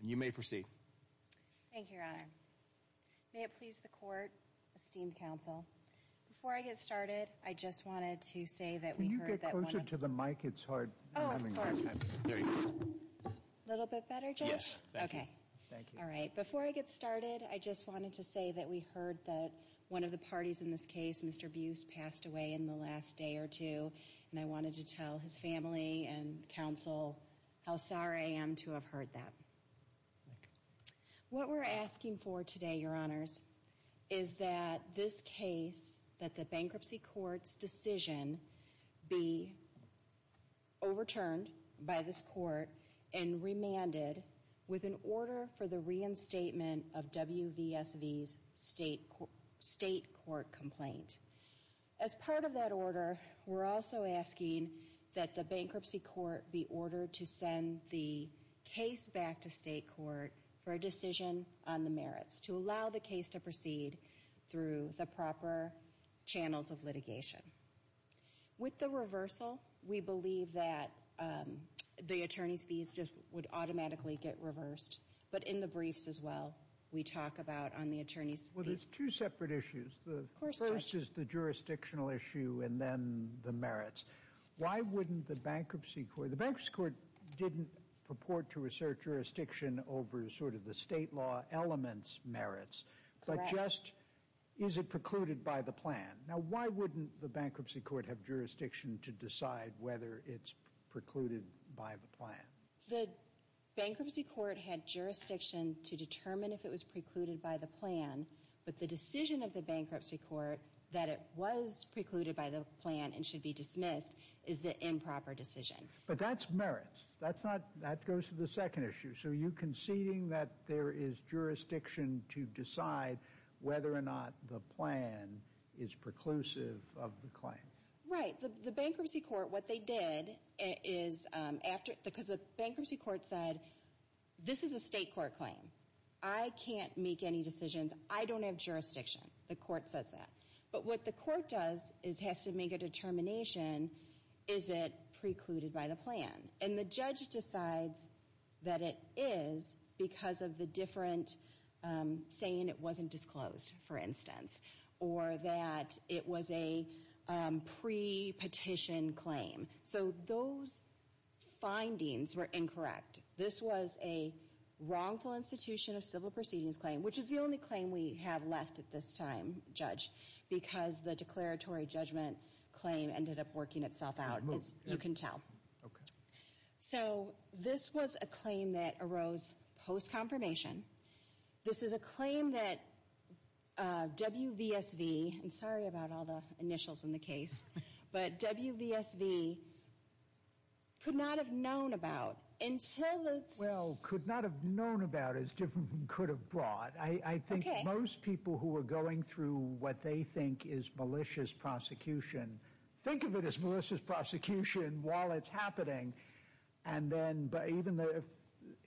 And you may proceed. Thank you, Your Honor. May it please the Court, esteemed counsel. Before I get started, I just wanted to say that we heard that one of the parties in this case, Mr. Buse, passed away in the last day or two. And I wanted to tell his family and counsel how sorry I am to have heard that. What we're asking for today, Your Honors, is that this case, that the bankruptcy court's decision be overturned by this court and remanded with an order for the reinstatement of WVSV's state court complaint. As part of that order, we're also asking that the bankruptcy court be ordered to send the case back to state court for a decision on the merits, to allow the case to proceed through the proper channels of litigation. With the reversal, we believe that the attorney's fees would automatically get reversed. But in the briefs as well, we talk about on the attorney's fees. Well, there's two separate issues. Of course, Judge. The first is the jurisdictional issue and then the merits. Why wouldn't the bankruptcy court, the bankruptcy court didn't purport to assert jurisdiction over sort of the state law elements merits. Correct. But just, is it precluded by the plan? Now, why wouldn't the bankruptcy court have jurisdiction to decide whether it's precluded by the plan? The bankruptcy court had jurisdiction to determine if it was precluded by the plan. But the decision of the bankruptcy court that it was precluded by the plan and should be dismissed is the improper decision. But that's merits. That's not, that goes to the second issue. So are you conceding that there is jurisdiction to decide whether or not the plan is preclusive of the claim? Right. The bankruptcy court, what they did is after, because the bankruptcy court said, this is a state court claim. I can't make any decisions. I don't have jurisdiction. The court says that. But what the court does is has to make a determination, is it precluded by the plan? And the judge decides that it is because of the different saying it wasn't disclosed, for instance. Or that it was a pre-petition claim. So those findings were incorrect. This was a wrongful institution of civil proceedings claim, which is the only claim we have left at this time, Judge. Because the declaratory judgment claim ended up working itself out, as you can tell. Okay. So this was a claim that arose post-confirmation. This is a claim that WVSV, I'm sorry about all the initials in the case. But WVSV could not have known about until it's. Well, could not have known about as different could have brought. I think most people who are going through what they think is malicious prosecution. And then even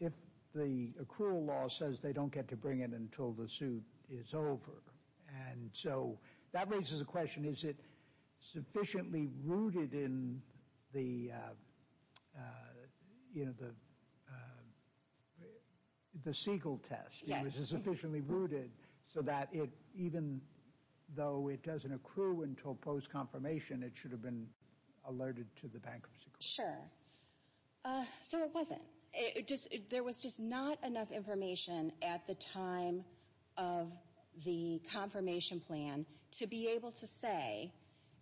if the accrual law says they don't get to bring it until the suit is over. And so that raises a question. Is it sufficiently rooted in the Siegel test? Yes. Is it sufficiently rooted so that even though it doesn't accrue until post-confirmation, it should have been alerted to the bankruptcy court? Sure. So it wasn't. There was just not enough information at the time of the confirmation plan to be able to say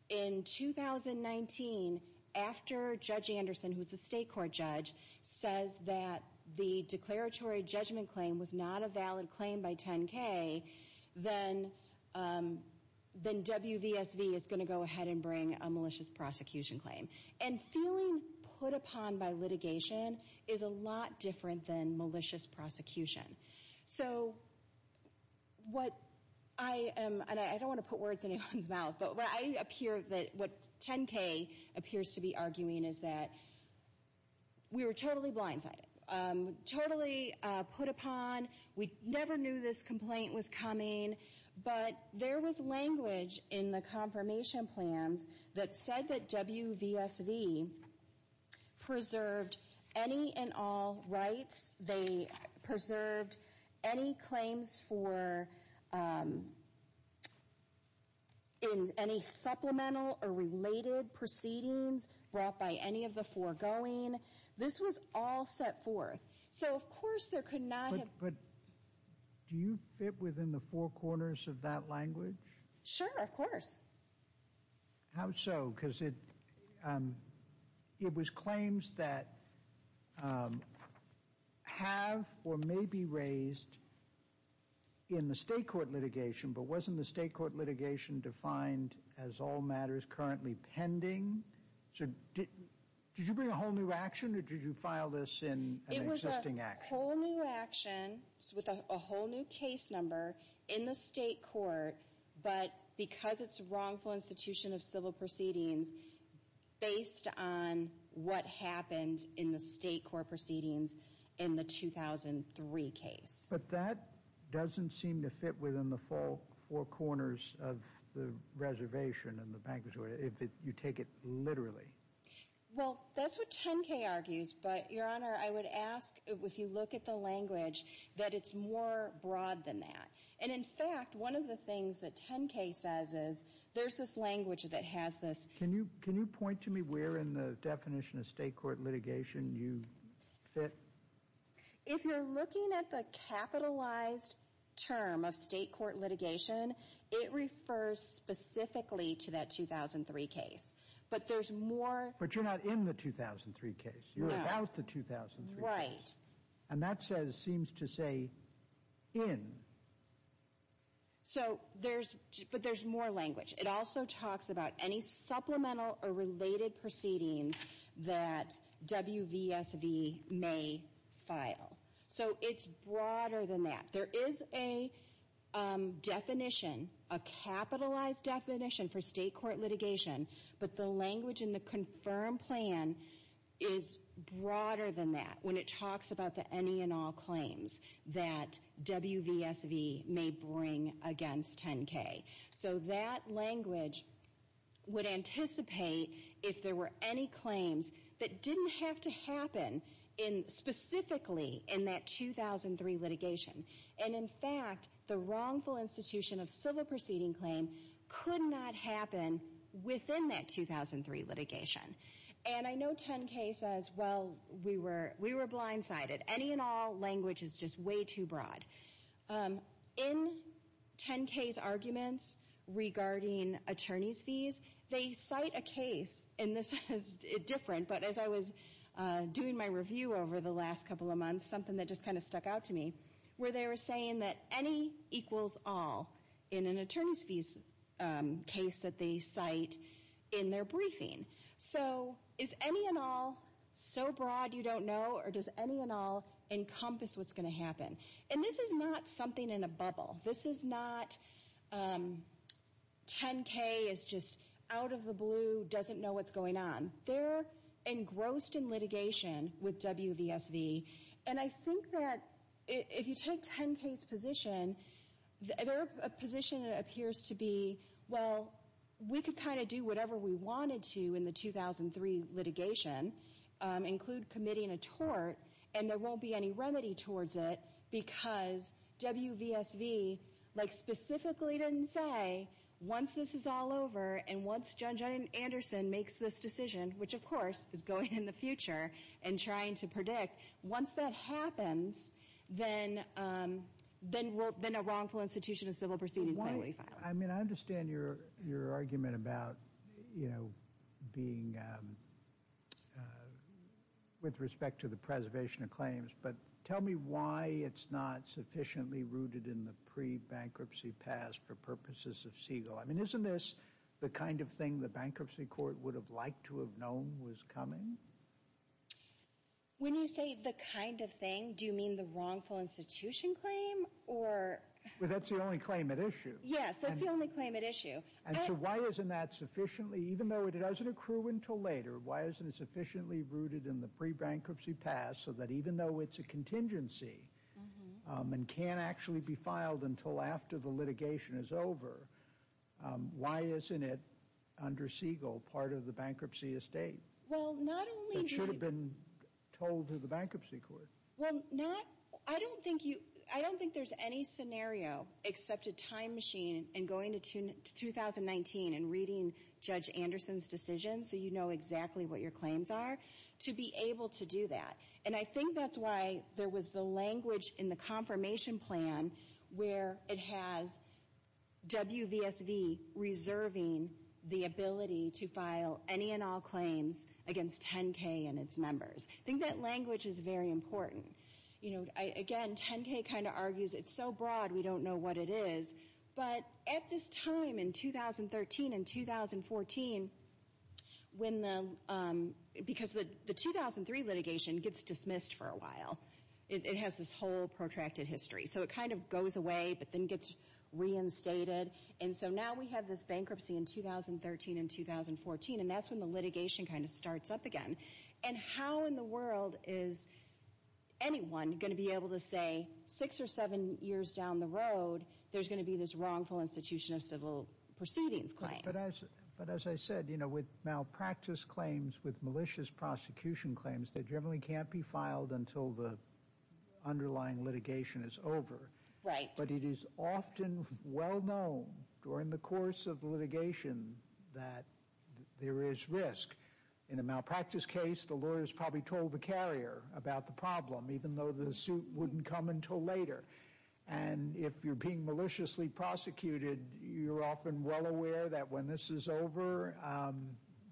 in 2019, after Judge Anderson, who is the state court judge, says that the declaratory judgment claim was not a valid claim by 10K, then WVSV is going to go ahead and bring a malicious prosecution claim. And feeling put upon by litigation is a lot different than malicious prosecution. So what I am, and I don't want to put words in anyone's mouth, but what 10K appears to be arguing is that we were totally blindsided, totally put upon. We never knew this complaint was coming. But there was language in the confirmation plans that said that WVSV preserved any and all rights. They preserved any claims for any supplemental or related proceedings brought by any of the foregoing. This was all set forth. But do you fit within the four corners of that language? Sure, of course. How so? Because it was claims that have or may be raised in the state court litigation, but wasn't the state court litigation defined as all matters currently pending? Did you bring a whole new action, or did you file this in an existing action? It was a whole new action with a whole new case number in the state court, but because it's a wrongful institution of civil proceedings, based on what happened in the state court proceedings in the 2003 case. But that doesn't seem to fit within the four corners of the reservation in the bank. If you take it literally. Well, that's what 10-K argues, but Your Honor, I would ask if you look at the language, that it's more broad than that. And in fact, one of the things that 10-K says is there's this language that has this. Can you point to me where in the definition of state court litigation you fit? If you're looking at the capitalized term of state court litigation, it refers specifically to that 2003 case. But there's more. But you're not in the 2003 case. No. You're about the 2003 case. Right. And that says, seems to say, in. So there's, but there's more language. It also talks about any supplemental or related proceedings that WVSV may file. So it's broader than that. There is a definition, a capitalized definition for state court litigation, but the language in the confirmed plan is broader than that when it talks about the any and all claims that WVSV may bring against 10-K. So that language would anticipate if there were any claims that didn't have to happen specifically in that 2003 litigation. And in fact, the wrongful institution of civil proceeding claim could not happen within that 2003 litigation. And I know 10-K says, well, we were blindsided. Any and all language is just way too broad. In 10-K's arguments regarding attorney's fees, they cite a case, and this is different, but as I was doing my review over the last couple of months, something that just kind of stuck out to me, where they were saying that any equals all in an attorney's fees case that they cite in their briefing. So is any and all so broad you don't know, or does any and all encompass what's going to happen? And this is not something in a bubble. This is not 10-K is just out of the blue, doesn't know what's going on. They're engrossed in litigation with WVSV, and I think that if you take 10-K's position, their position appears to be, well, we could kind of do whatever we wanted to in the 2003 litigation, include committing a tort, and there won't be any remedy towards it because WVSV, like, specifically didn't say, once this is all over and once Judge Anderson makes this decision, which of course is going in the future and trying to predict, once that happens, then a wrongful institution of civil proceedings may be filed. I mean, I understand your argument about, you know, being, with respect to the preservation of claims, but tell me why it's not sufficiently rooted in the pre-bankruptcy past for purposes of Siegel. I mean, isn't this the kind of thing the bankruptcy court would have liked to have known was coming? When you say the kind of thing, do you mean the wrongful institution claim, or? Well, that's the only claim at issue. Yes, that's the only claim at issue. And so why isn't that sufficiently, even though it doesn't accrue until later, why isn't it sufficiently rooted in the pre-bankruptcy past so that even though it's a contingency and can't actually be filed until after the litigation is over, why isn't it under Siegel part of the bankruptcy estate? Well, not only do you— It should have been told to the bankruptcy court. Well, not—I don't think you—I don't think there's any scenario except a time machine and going to 2019 and reading Judge Anderson's decision so you know exactly what your claims are, to be able to do that. And I think that's why there was the language in the confirmation plan where it has WVSV reserving the ability to file any and all claims against 10K and its members. I think that language is very important. Again, 10K kind of argues it's so broad we don't know what it is. But at this time in 2013 and 2014, when the—because the 2003 litigation gets dismissed for a while. It has this whole protracted history. So it kind of goes away but then gets reinstated. And so now we have this bankruptcy in 2013 and 2014, and that's when the litigation kind of starts up again. And how in the world is anyone going to be able to say six or seven years down the road there's going to be this wrongful institution of civil proceedings claim? But as I said, you know, with malpractice claims, with malicious prosecution claims, they generally can't be filed until the underlying litigation is over. Right. But it is often well known during the course of the litigation that there is risk. In a malpractice case, the lawyers probably told the carrier about the problem, even though the suit wouldn't come until later. And if you're being maliciously prosecuted, you're often well aware that when this is over,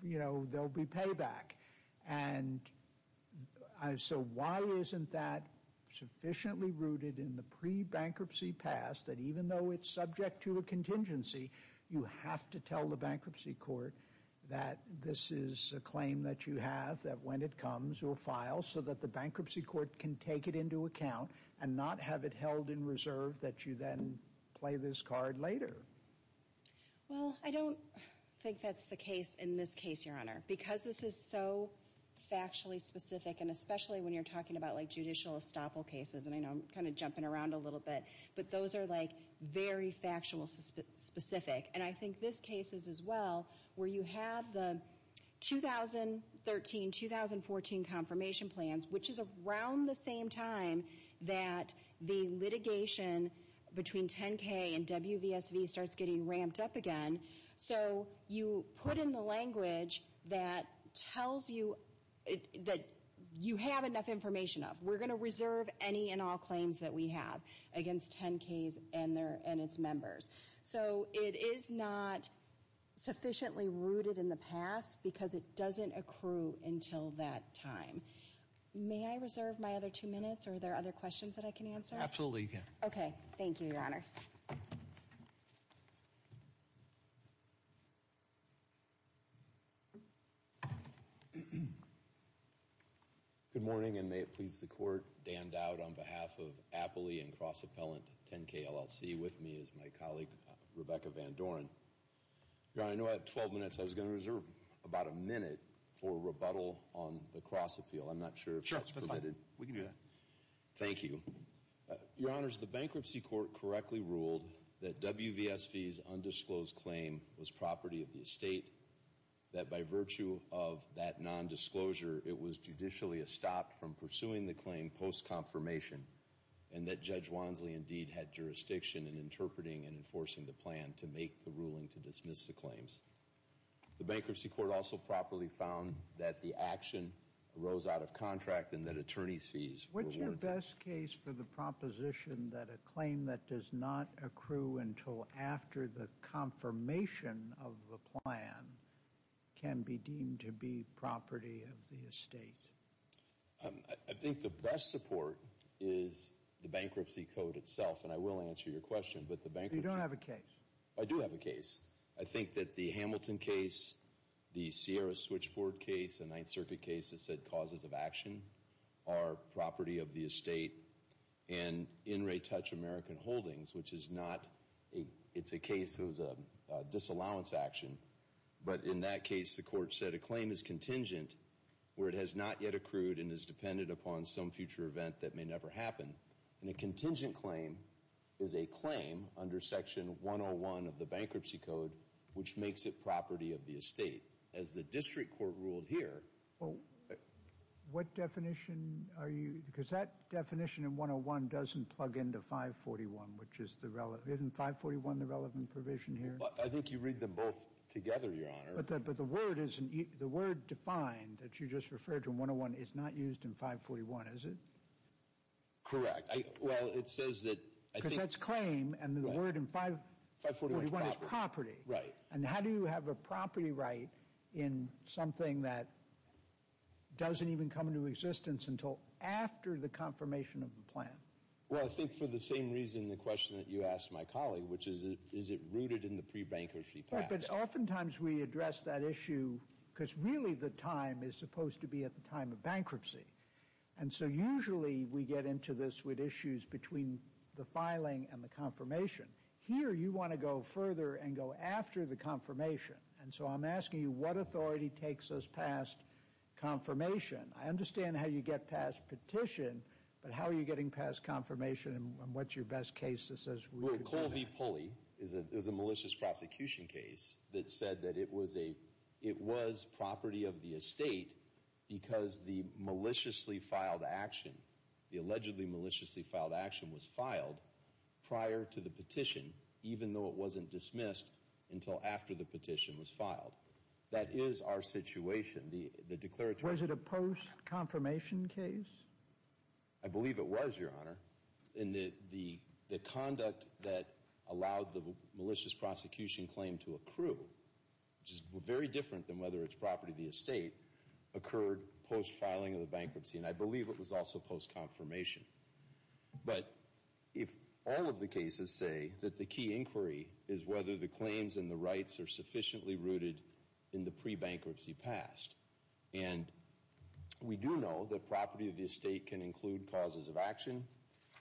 you know, there'll be payback. And so why isn't that sufficiently rooted in the pre-bankruptcy past that even though it's subject to a contingency, you have to tell the bankruptcy court that this is a claim that you have, that when it comes, you'll file so that the bankruptcy court can take it into account and not have it held in reserve that you then play this card later? Well, I don't think that's the case in this case, Your Honor. Because this is so factually specific, and especially when you're talking about like judicial estoppel cases, and I know I'm kind of jumping around a little bit, but those are like very factual specific. And I think this case is as well, where you have the 2013-2014 confirmation plans, which is around the same time that the litigation between 10K and WVSV starts getting ramped up again. So you put in the language that tells you that you have enough information. We're going to reserve any and all claims that we have against 10Ks and its members. So it is not sufficiently rooted in the past because it doesn't accrue until that time. May I reserve my other two minutes, or are there other questions that I can answer? Absolutely, you can. Okay. Thank you, Your Honors. Good morning, and may it please the Court, Dan Dowd on behalf of Appley and Cross-Appellant 10K LLC, with me is my colleague, Rebecca Van Doren. Your Honor, I know I have 12 minutes. I was going to reserve about a minute for rebuttal on the Cross-Appeal. I'm not sure if that's permitted. Sure, that's fine. We can do that. Thank you. Your Honors, the Bankruptcy Court correctly ruled that WVSV's undisclosed claim was property of the estate, that by virtue of that nondisclosure, it was judicially estopped from pursuing the claim post-confirmation, and that Judge Wansley indeed had jurisdiction in interpreting and enforcing the plan to make the ruling to dismiss the claims. The Bankruptcy Court also properly found that the action arose out of contract and that attorneys' fees were warranted. Which is the best case for the proposition that a claim that does not accrue until after the confirmation of the plan can be deemed to be property of the estate? I think the best support is the bankruptcy code itself, and I will answer your question. But you don't have a case. I do have a case. I think that the Hamilton case, the Sierra switchboard case, the Ninth Circuit case that said causes of action are property of the estate and in re-touch American Holdings, which is not a, it's a case that was a disallowance action. But in that case, the court said a claim is contingent where it has not yet accrued and is dependent upon some future event that may never happen. And a contingent claim is a claim under Section 101 of the Bankruptcy Code which makes it property of the estate. As the district court ruled here. What definition are you, because that definition in 101 doesn't plug into 541, which is the relevant, isn't 541 the relevant provision here? I think you read them both together, Your Honor. But the word is, the word defined that you just referred to in 101 is not used in 541, is it? Correct. Well, it says that, I think. Because that's claim and the word in 541 is property. Right. And how do you have a property right in something that doesn't even come into existence until after the confirmation of the plan? Well, I think for the same reason the question that you asked my colleague, which is, is it rooted in the pre-bankruptcy past? But oftentimes we address that issue because really the time is supposed to be at the time of bankruptcy. And so usually we get into this with issues between the filing and the confirmation. Here you want to go further and go after the confirmation. And so I'm asking you, what authority takes us past confirmation? I understand how you get past petition, but how are you getting past confirmation and what's your best case that says we could do that? Well, Colby Pulley is a malicious prosecution case that said that it was property of the estate because the maliciously filed action, the allegedly maliciously filed action was filed prior to the petition even though it wasn't dismissed until after the petition was filed. That is our situation. Was it a post-confirmation case? I believe it was, Your Honor. And the conduct that allowed the malicious prosecution claim to accrue, which is very different than whether it's property of the estate, occurred post-filing of the bankruptcy. And I believe it was also post-confirmation. But if all of the cases say that the key inquiry is whether the claims and the rights are sufficiently rooted in the pre-bankruptcy past, and we do know that property of the estate can include causes of action,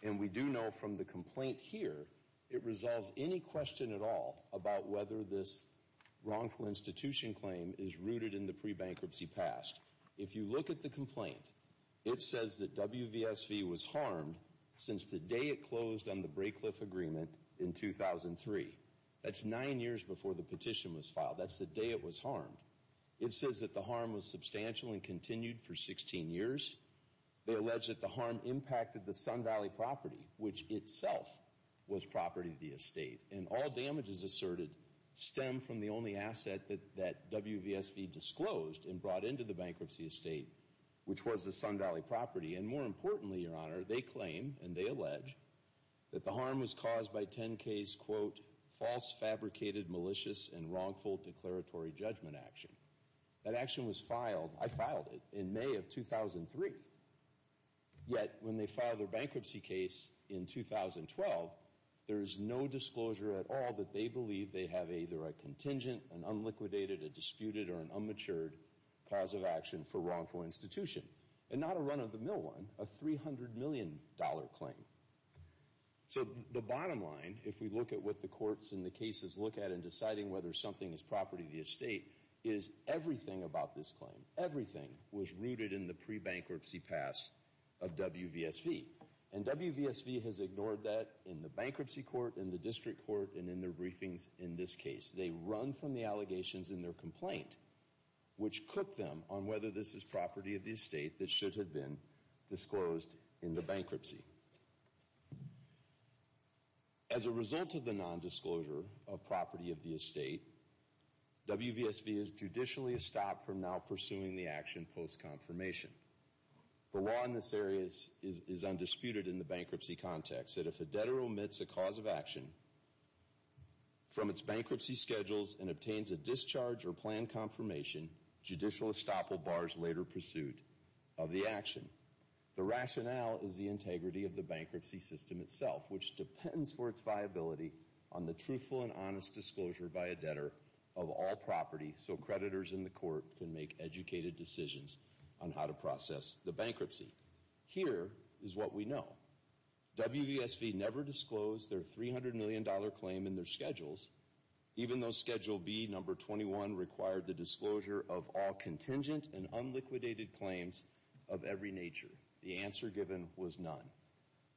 and we do know from the complaint here it resolves any question at all about whether this wrongful institution claim is rooted in the pre-bankruptcy past. If you look at the complaint, it says that WVSV was harmed since the day it closed on the Braycliffe Agreement in 2003. That's nine years before the petition was filed. That's the day it was harmed. It says that the harm was substantial and continued for 16 years. They allege that the harm impacted the Sun Valley property, which itself was property of the estate. And all damages asserted stem from the only asset that WVSV disclosed and brought into the bankruptcy estate, which was the Sun Valley property. And more importantly, Your Honor, they claim, and they allege, that the harm was caused by 10K's, quote, false, fabricated, malicious, and wrongful declaratory judgment action. That action was filed. I filed it in May of 2003. Yet when they filed their bankruptcy case in 2012, there is no disclosure at all that they believe they have either a contingent, an unliquidated, a disputed, or an unmatured cause of action for wrongful institution. And not a run-of-the-mill one, a $300 million claim. So the bottom line, if we look at what the courts in the cases look at in deciding whether something is property of the estate, is everything about this claim, everything was rooted in the pre-bankruptcy pass of WVSV. And WVSV has ignored that in the bankruptcy court, in the district court, and in their briefings in this case. They run from the allegations in their complaint, which cook them on whether this is property of the estate that should have been disclosed in the bankruptcy. As a result of the nondisclosure of property of the estate, WVSV is judicially stopped from now pursuing the action post-confirmation. The law in this area is undisputed in the bankruptcy context, that if a debtor omits a cause of action from its bankruptcy schedules and obtains a discharge or planned confirmation, judicial estoppel bars later pursuit of the action. The rationale is the integrity of the bankruptcy system itself, which depends for its viability on the truthful and honest disclosure by a debtor of all property so creditors in the court can make educated decisions on how to process the bankruptcy. Here is what we know. WVSV never disclosed their $300 million claim in their schedules, even though schedule B, number 21, required the disclosure of all contingent and unliquidated claims of every nature. The answer given was none.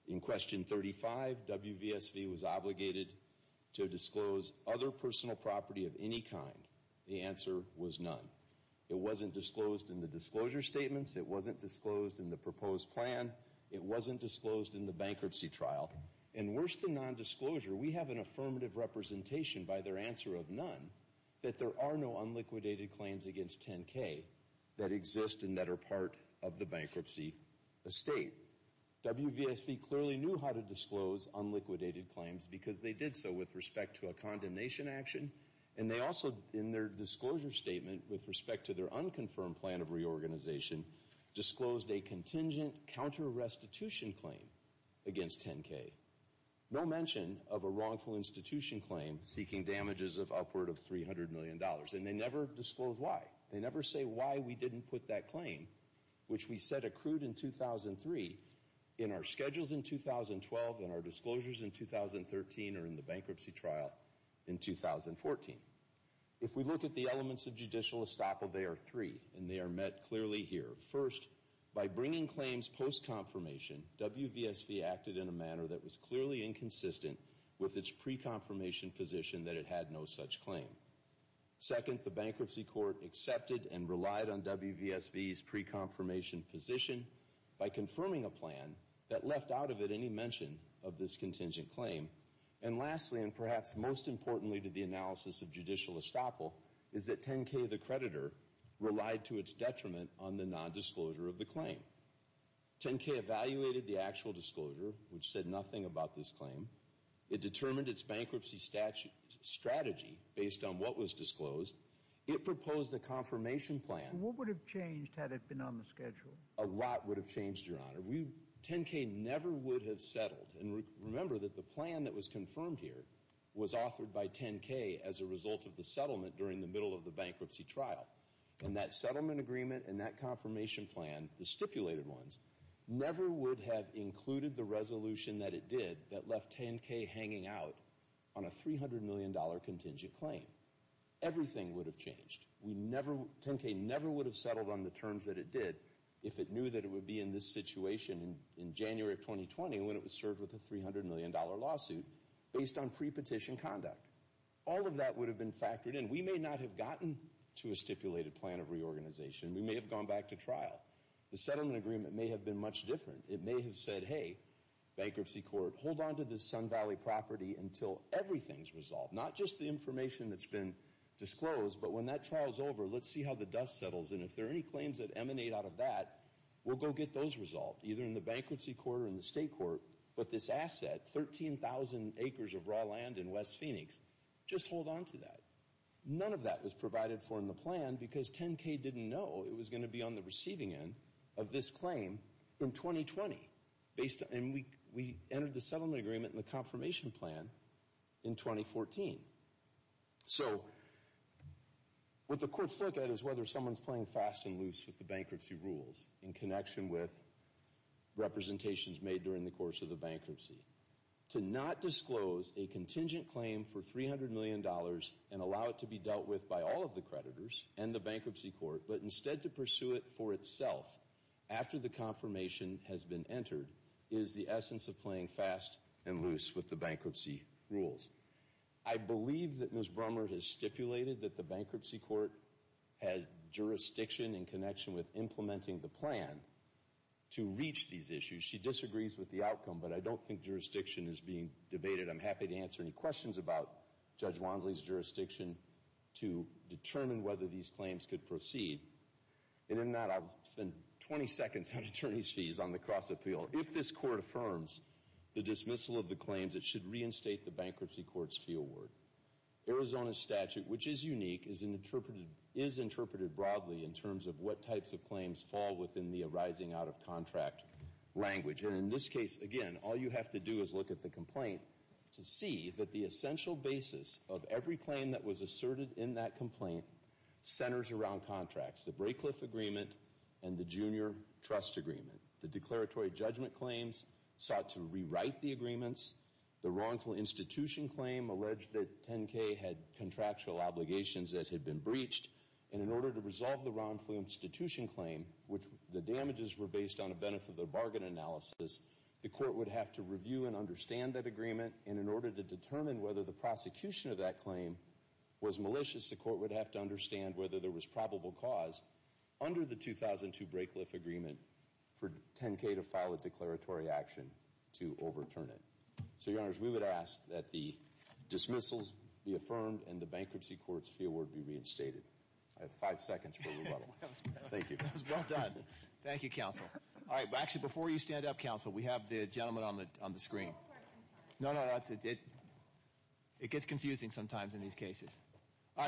In question 35, WVSV was obligated to disclose other personal property of any kind. The answer was none. It wasn't disclosed in the disclosure statements. It wasn't disclosed in the proposed plan. It wasn't disclosed in the bankruptcy trial. And worse than nondisclosure, we have an affirmative representation by their answer of none that there are no unliquidated claims against 10K that exist and that are part of the bankruptcy estate. WVSV clearly knew how to disclose unliquidated claims because they did so with respect to a condemnation action, and they also, in their disclosure statement, with respect to their unconfirmed plan of reorganization, disclosed a contingent counterrestitution claim against 10K. No mention of a wrongful institution claim seeking damages of upward of $300 million. And they never disclosed why. They never say why we didn't put that claim, which we said accrued in 2003, in our schedules in 2012 and our disclosures in 2013 or in the bankruptcy trial in 2014. If we look at the elements of judicial estoppel, they are three, and they are met clearly here. First, by bringing claims post-confirmation, WVSV acted in a manner that was clearly inconsistent with its pre-confirmation position that it had no such claim. Second, the bankruptcy court accepted and relied on WVSV's pre-confirmation position by confirming a plan that left out of it any mention of this contingent claim. And lastly, and perhaps most importantly to the analysis of judicial estoppel, is that 10K, the creditor, relied to its detriment on the nondisclosure of the claim. 10K evaluated the actual disclosure, which said nothing about this claim. It determined its bankruptcy strategy based on what was disclosed. It proposed a confirmation plan. What would have changed had it been on the schedule? A lot would have changed, Your Honor. 10K never would have settled. And remember that the plan that was confirmed here was authored by 10K as a result of the settlement during the middle of the bankruptcy trial. And that settlement agreement and that confirmation plan, the stipulated ones, never would have included the resolution that it did that left 10K hanging out on a $300 million contingent claim. Everything would have changed. 10K never would have settled on the terms that it did if it knew that it would be in this situation in January of 2020 when it was served with a $300 million lawsuit based on pre-petition conduct. All of that would have been factored in. We may not have gotten to a stipulated plan of reorganization. We may have gone back to trial. The settlement agreement may have been much different. It may have said, hey, bankruptcy court, hold on to this Sun Valley property until everything's resolved. Not just the information that's been disclosed, but when that trial's over, let's see how the dust settles. And if there are any claims that emanate out of that, we'll go get those resolved, either in the bankruptcy court or in the state court. But this asset, 13,000 acres of raw land in West Phoenix, just hold on to that. None of that was provided for in the plan because 10K didn't know it was going to be on the receiving end of this claim in 2020. And we entered the settlement agreement and the confirmation plan in 2014. So what the courts look at is whether someone's playing fast and loose with the bankruptcy rules in connection with representations made during the course of the bankruptcy. To not disclose a contingent claim for $300 million and allow it to be dealt with by all of the creditors and the bankruptcy court, but instead to pursue it for itself after the confirmation has been entered, is the essence of playing fast and loose with the bankruptcy rules. I believe that Ms. Brummer has stipulated that the bankruptcy court has jurisdiction in connection with implementing the plan to reach these issues. She disagrees with the outcome, but I don't think jurisdiction is being debated. I'm happy to answer any questions about Judge Wansley's jurisdiction to determine whether these claims could proceed. And in that, I'll spend 20 seconds on attorney's fees on the cross-appeal. If this court affirms the dismissal of the claims, it should reinstate the bankruptcy court's fee award. Arizona's statute, which is unique, is interpreted broadly in terms of what types of claims fall within the arising out-of-contract language. And in this case, again, all you have to do is look at the complaint to see that the essential basis of every claim that was asserted in that complaint centers around contracts. The Braycliffe Agreement and the Junior Trust Agreement. The declaratory judgment claims sought to rewrite the agreements. The wrongful institution claim alleged that 10K had contractual obligations that had been breached. And in order to resolve the wrongful institution claim, which the damages were based on the benefit of the bargain analysis, the court would have to review and understand that agreement. And in order to determine whether the prosecution of that claim was malicious, the court would have to understand whether there was probable cause under the 2002 Braycliffe Agreement for 10K to file a declaratory action to overturn it. So, Your Honors, we would ask that the dismissals be affirmed and the bankruptcy court's fee award be reinstated. I have five seconds for rebuttal. Thank you. That was well done. Thank you, Counsel. All right. Actually, before you stand up, Counsel, we have the gentleman on the screen. No, no. It gets confusing sometimes in these cases.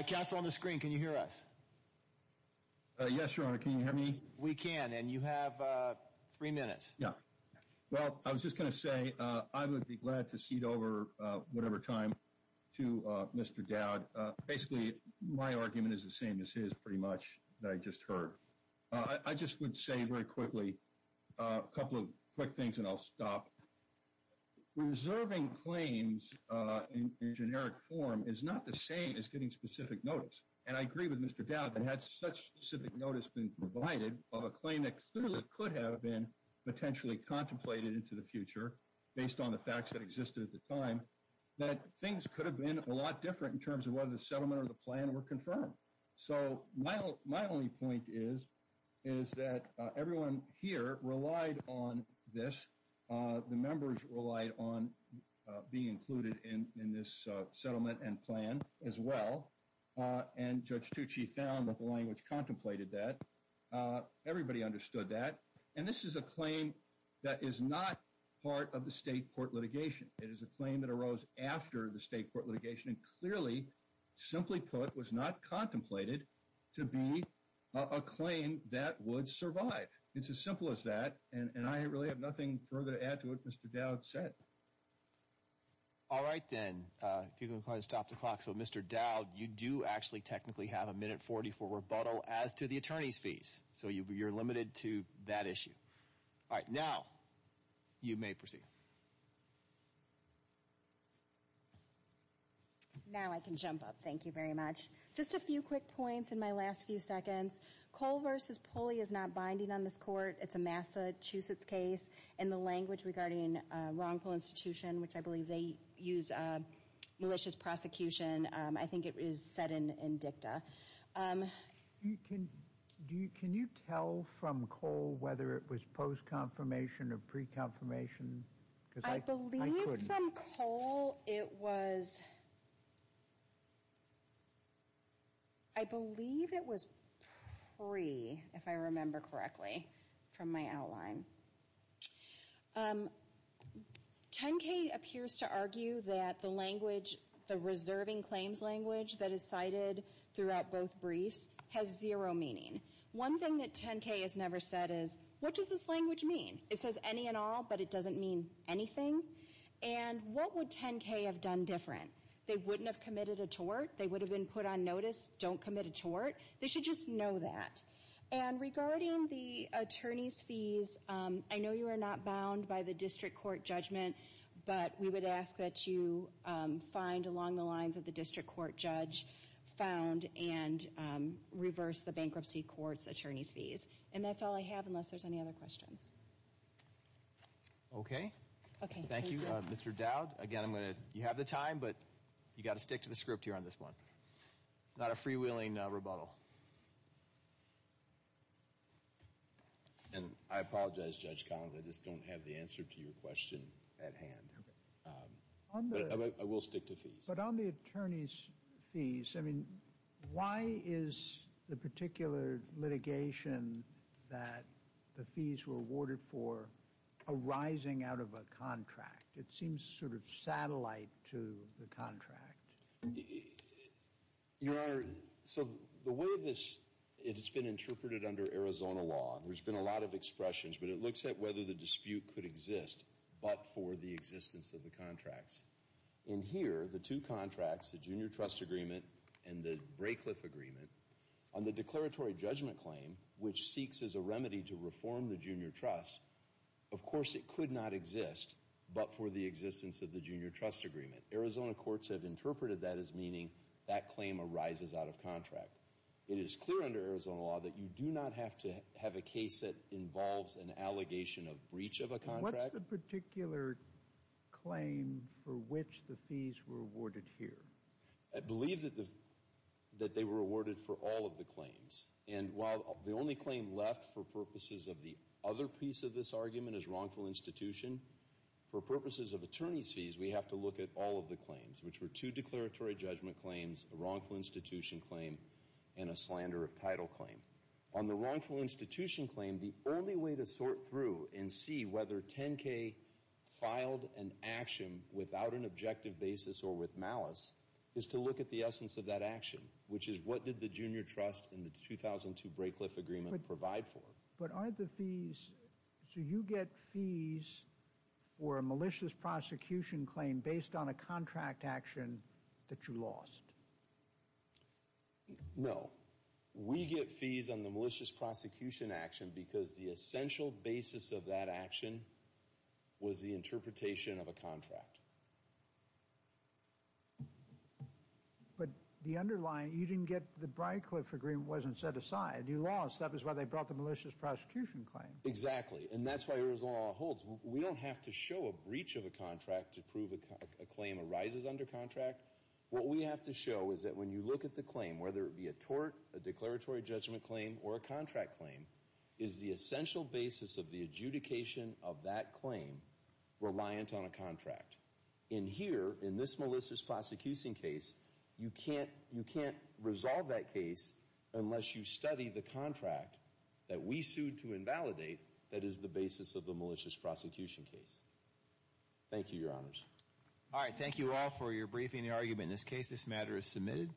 Counsel, on the screen, can you hear us? Yes, Your Honor. Can you hear me? We can. And you have three minutes. Yeah. Well, I was just going to say I would be glad to cede over whatever time to Mr. Dowd. Basically, my argument is the same as his pretty much that I just heard. I just would say very quickly a couple of quick things and I'll stop. Reserving claims in generic form is not the same as getting specific notice. And I agree with Mr. Dowd that had such specific notice been provided of a claim that clearly could have been potentially contemplated into the future based on the facts that existed at the time, that things could have been a lot different in terms of whether the settlement or the plan were confirmed. So my only point is that everyone here relied on this. The members relied on being included in this settlement and plan as well. And Judge Tucci found that the language contemplated that. Everybody understood that. And this is a claim that is not part of the state court litigation. It is a claim that arose after the state court litigation and clearly, simply put, was not contemplated to be a claim that would survive. It's as simple as that. And I really have nothing further to add to what Mr. Dowd said. All right, then. If you can stop the clock. So, Mr. Dowd, you do actually technically have a minute 40 for rebuttal as to the attorney's fees. So you're limited to that issue. All right. Now you may proceed. Now I can jump up. Thank you very much. Just a few quick points in my last few seconds. Cole v. Pulley is not binding on this court. It's a Massachusetts case. And the language regarding wrongful institution, which I believe they use malicious prosecution, I think it is set in dicta. Can you tell from Cole whether it was post-confirmation or pre-confirmation? Because I couldn't. From Cole, it was, I believe it was pre, if I remember correctly, from my outline. 10K appears to argue that the language, the reserving claims language, that is cited throughout both briefs has zero meaning. One thing that 10K has never said is, what does this language mean? It says any and all, but it doesn't mean anything. And what would 10K have done different? They wouldn't have committed a tort. They would have been put on notice, don't commit a tort. They should just know that. And regarding the attorney's fees, I know you are not bound by the district court judgment, but we would ask that you find along the lines of the district court judge, found and reverse the bankruptcy court's attorney's fees. And that's all I have unless there's any other questions. Okay. Thank you, Mr. Dowd. Again, I'm going to, you have the time, but you've got to stick to the script here on this one. Not a freewheeling rebuttal. And I apologize, Judge Collins, I just don't have the answer to your question at hand. But I will stick to fees. I mean, why is the particular litigation that the fees were awarded for arising out of a contract? It seems sort of satellite to the contract. Your Honor, so the way this has been interpreted under Arizona law, and there's been a lot of expressions, but it looks at whether the dispute could exist but for the existence of the contracts. In here, the two contracts, the Junior Trust Agreement and the Braycliffe Agreement, on the declaratory judgment claim, which seeks as a remedy to reform the Junior Trust, of course it could not exist but for the existence of the Junior Trust Agreement. Arizona courts have interpreted that as meaning that claim arises out of contract. It is clear under Arizona law that you do not have to have a case that involves an allegation of breach of a contract. What's the particular claim for which the fees were awarded here? I believe that they were awarded for all of the claims. And while the only claim left for purposes of the other piece of this argument is wrongful institution, for purposes of attorney's fees, we have to look at all of the claims, which were two declaratory judgment claims, a wrongful institution claim, and a slander of title claim. On the wrongful institution claim, the only way to sort through and see whether 10K filed an action without an objective basis or with malice is to look at the essence of that action, which is what did the Junior Trust and the 2002 Braycliffe Agreement provide for. But are the fees, so you get fees for a malicious prosecution claim based on a contract action that you lost? No. We get fees on the malicious prosecution action because the essential basis of that action was the interpretation of a contract. But the underlying, you didn't get the Braycliffe Agreement wasn't set aside. You lost. That was why they brought the malicious prosecution claim. Exactly. And that's why Arizona law holds. We don't have to show a breach of a contract to prove a claim arises under contract. What we have to show is that when you look at the claim, whether it be a tort, a declaratory judgment claim, or a contract claim, is the essential basis of the adjudication of that claim reliant on a contract. And here, in this malicious prosecuting case, you can't resolve that case unless you study the contract that we sued to invalidate that is the basis of the malicious prosecution case. Thank you, Your Honors. All right. Thank you all for your briefing and argument in this case. This matter is submitted.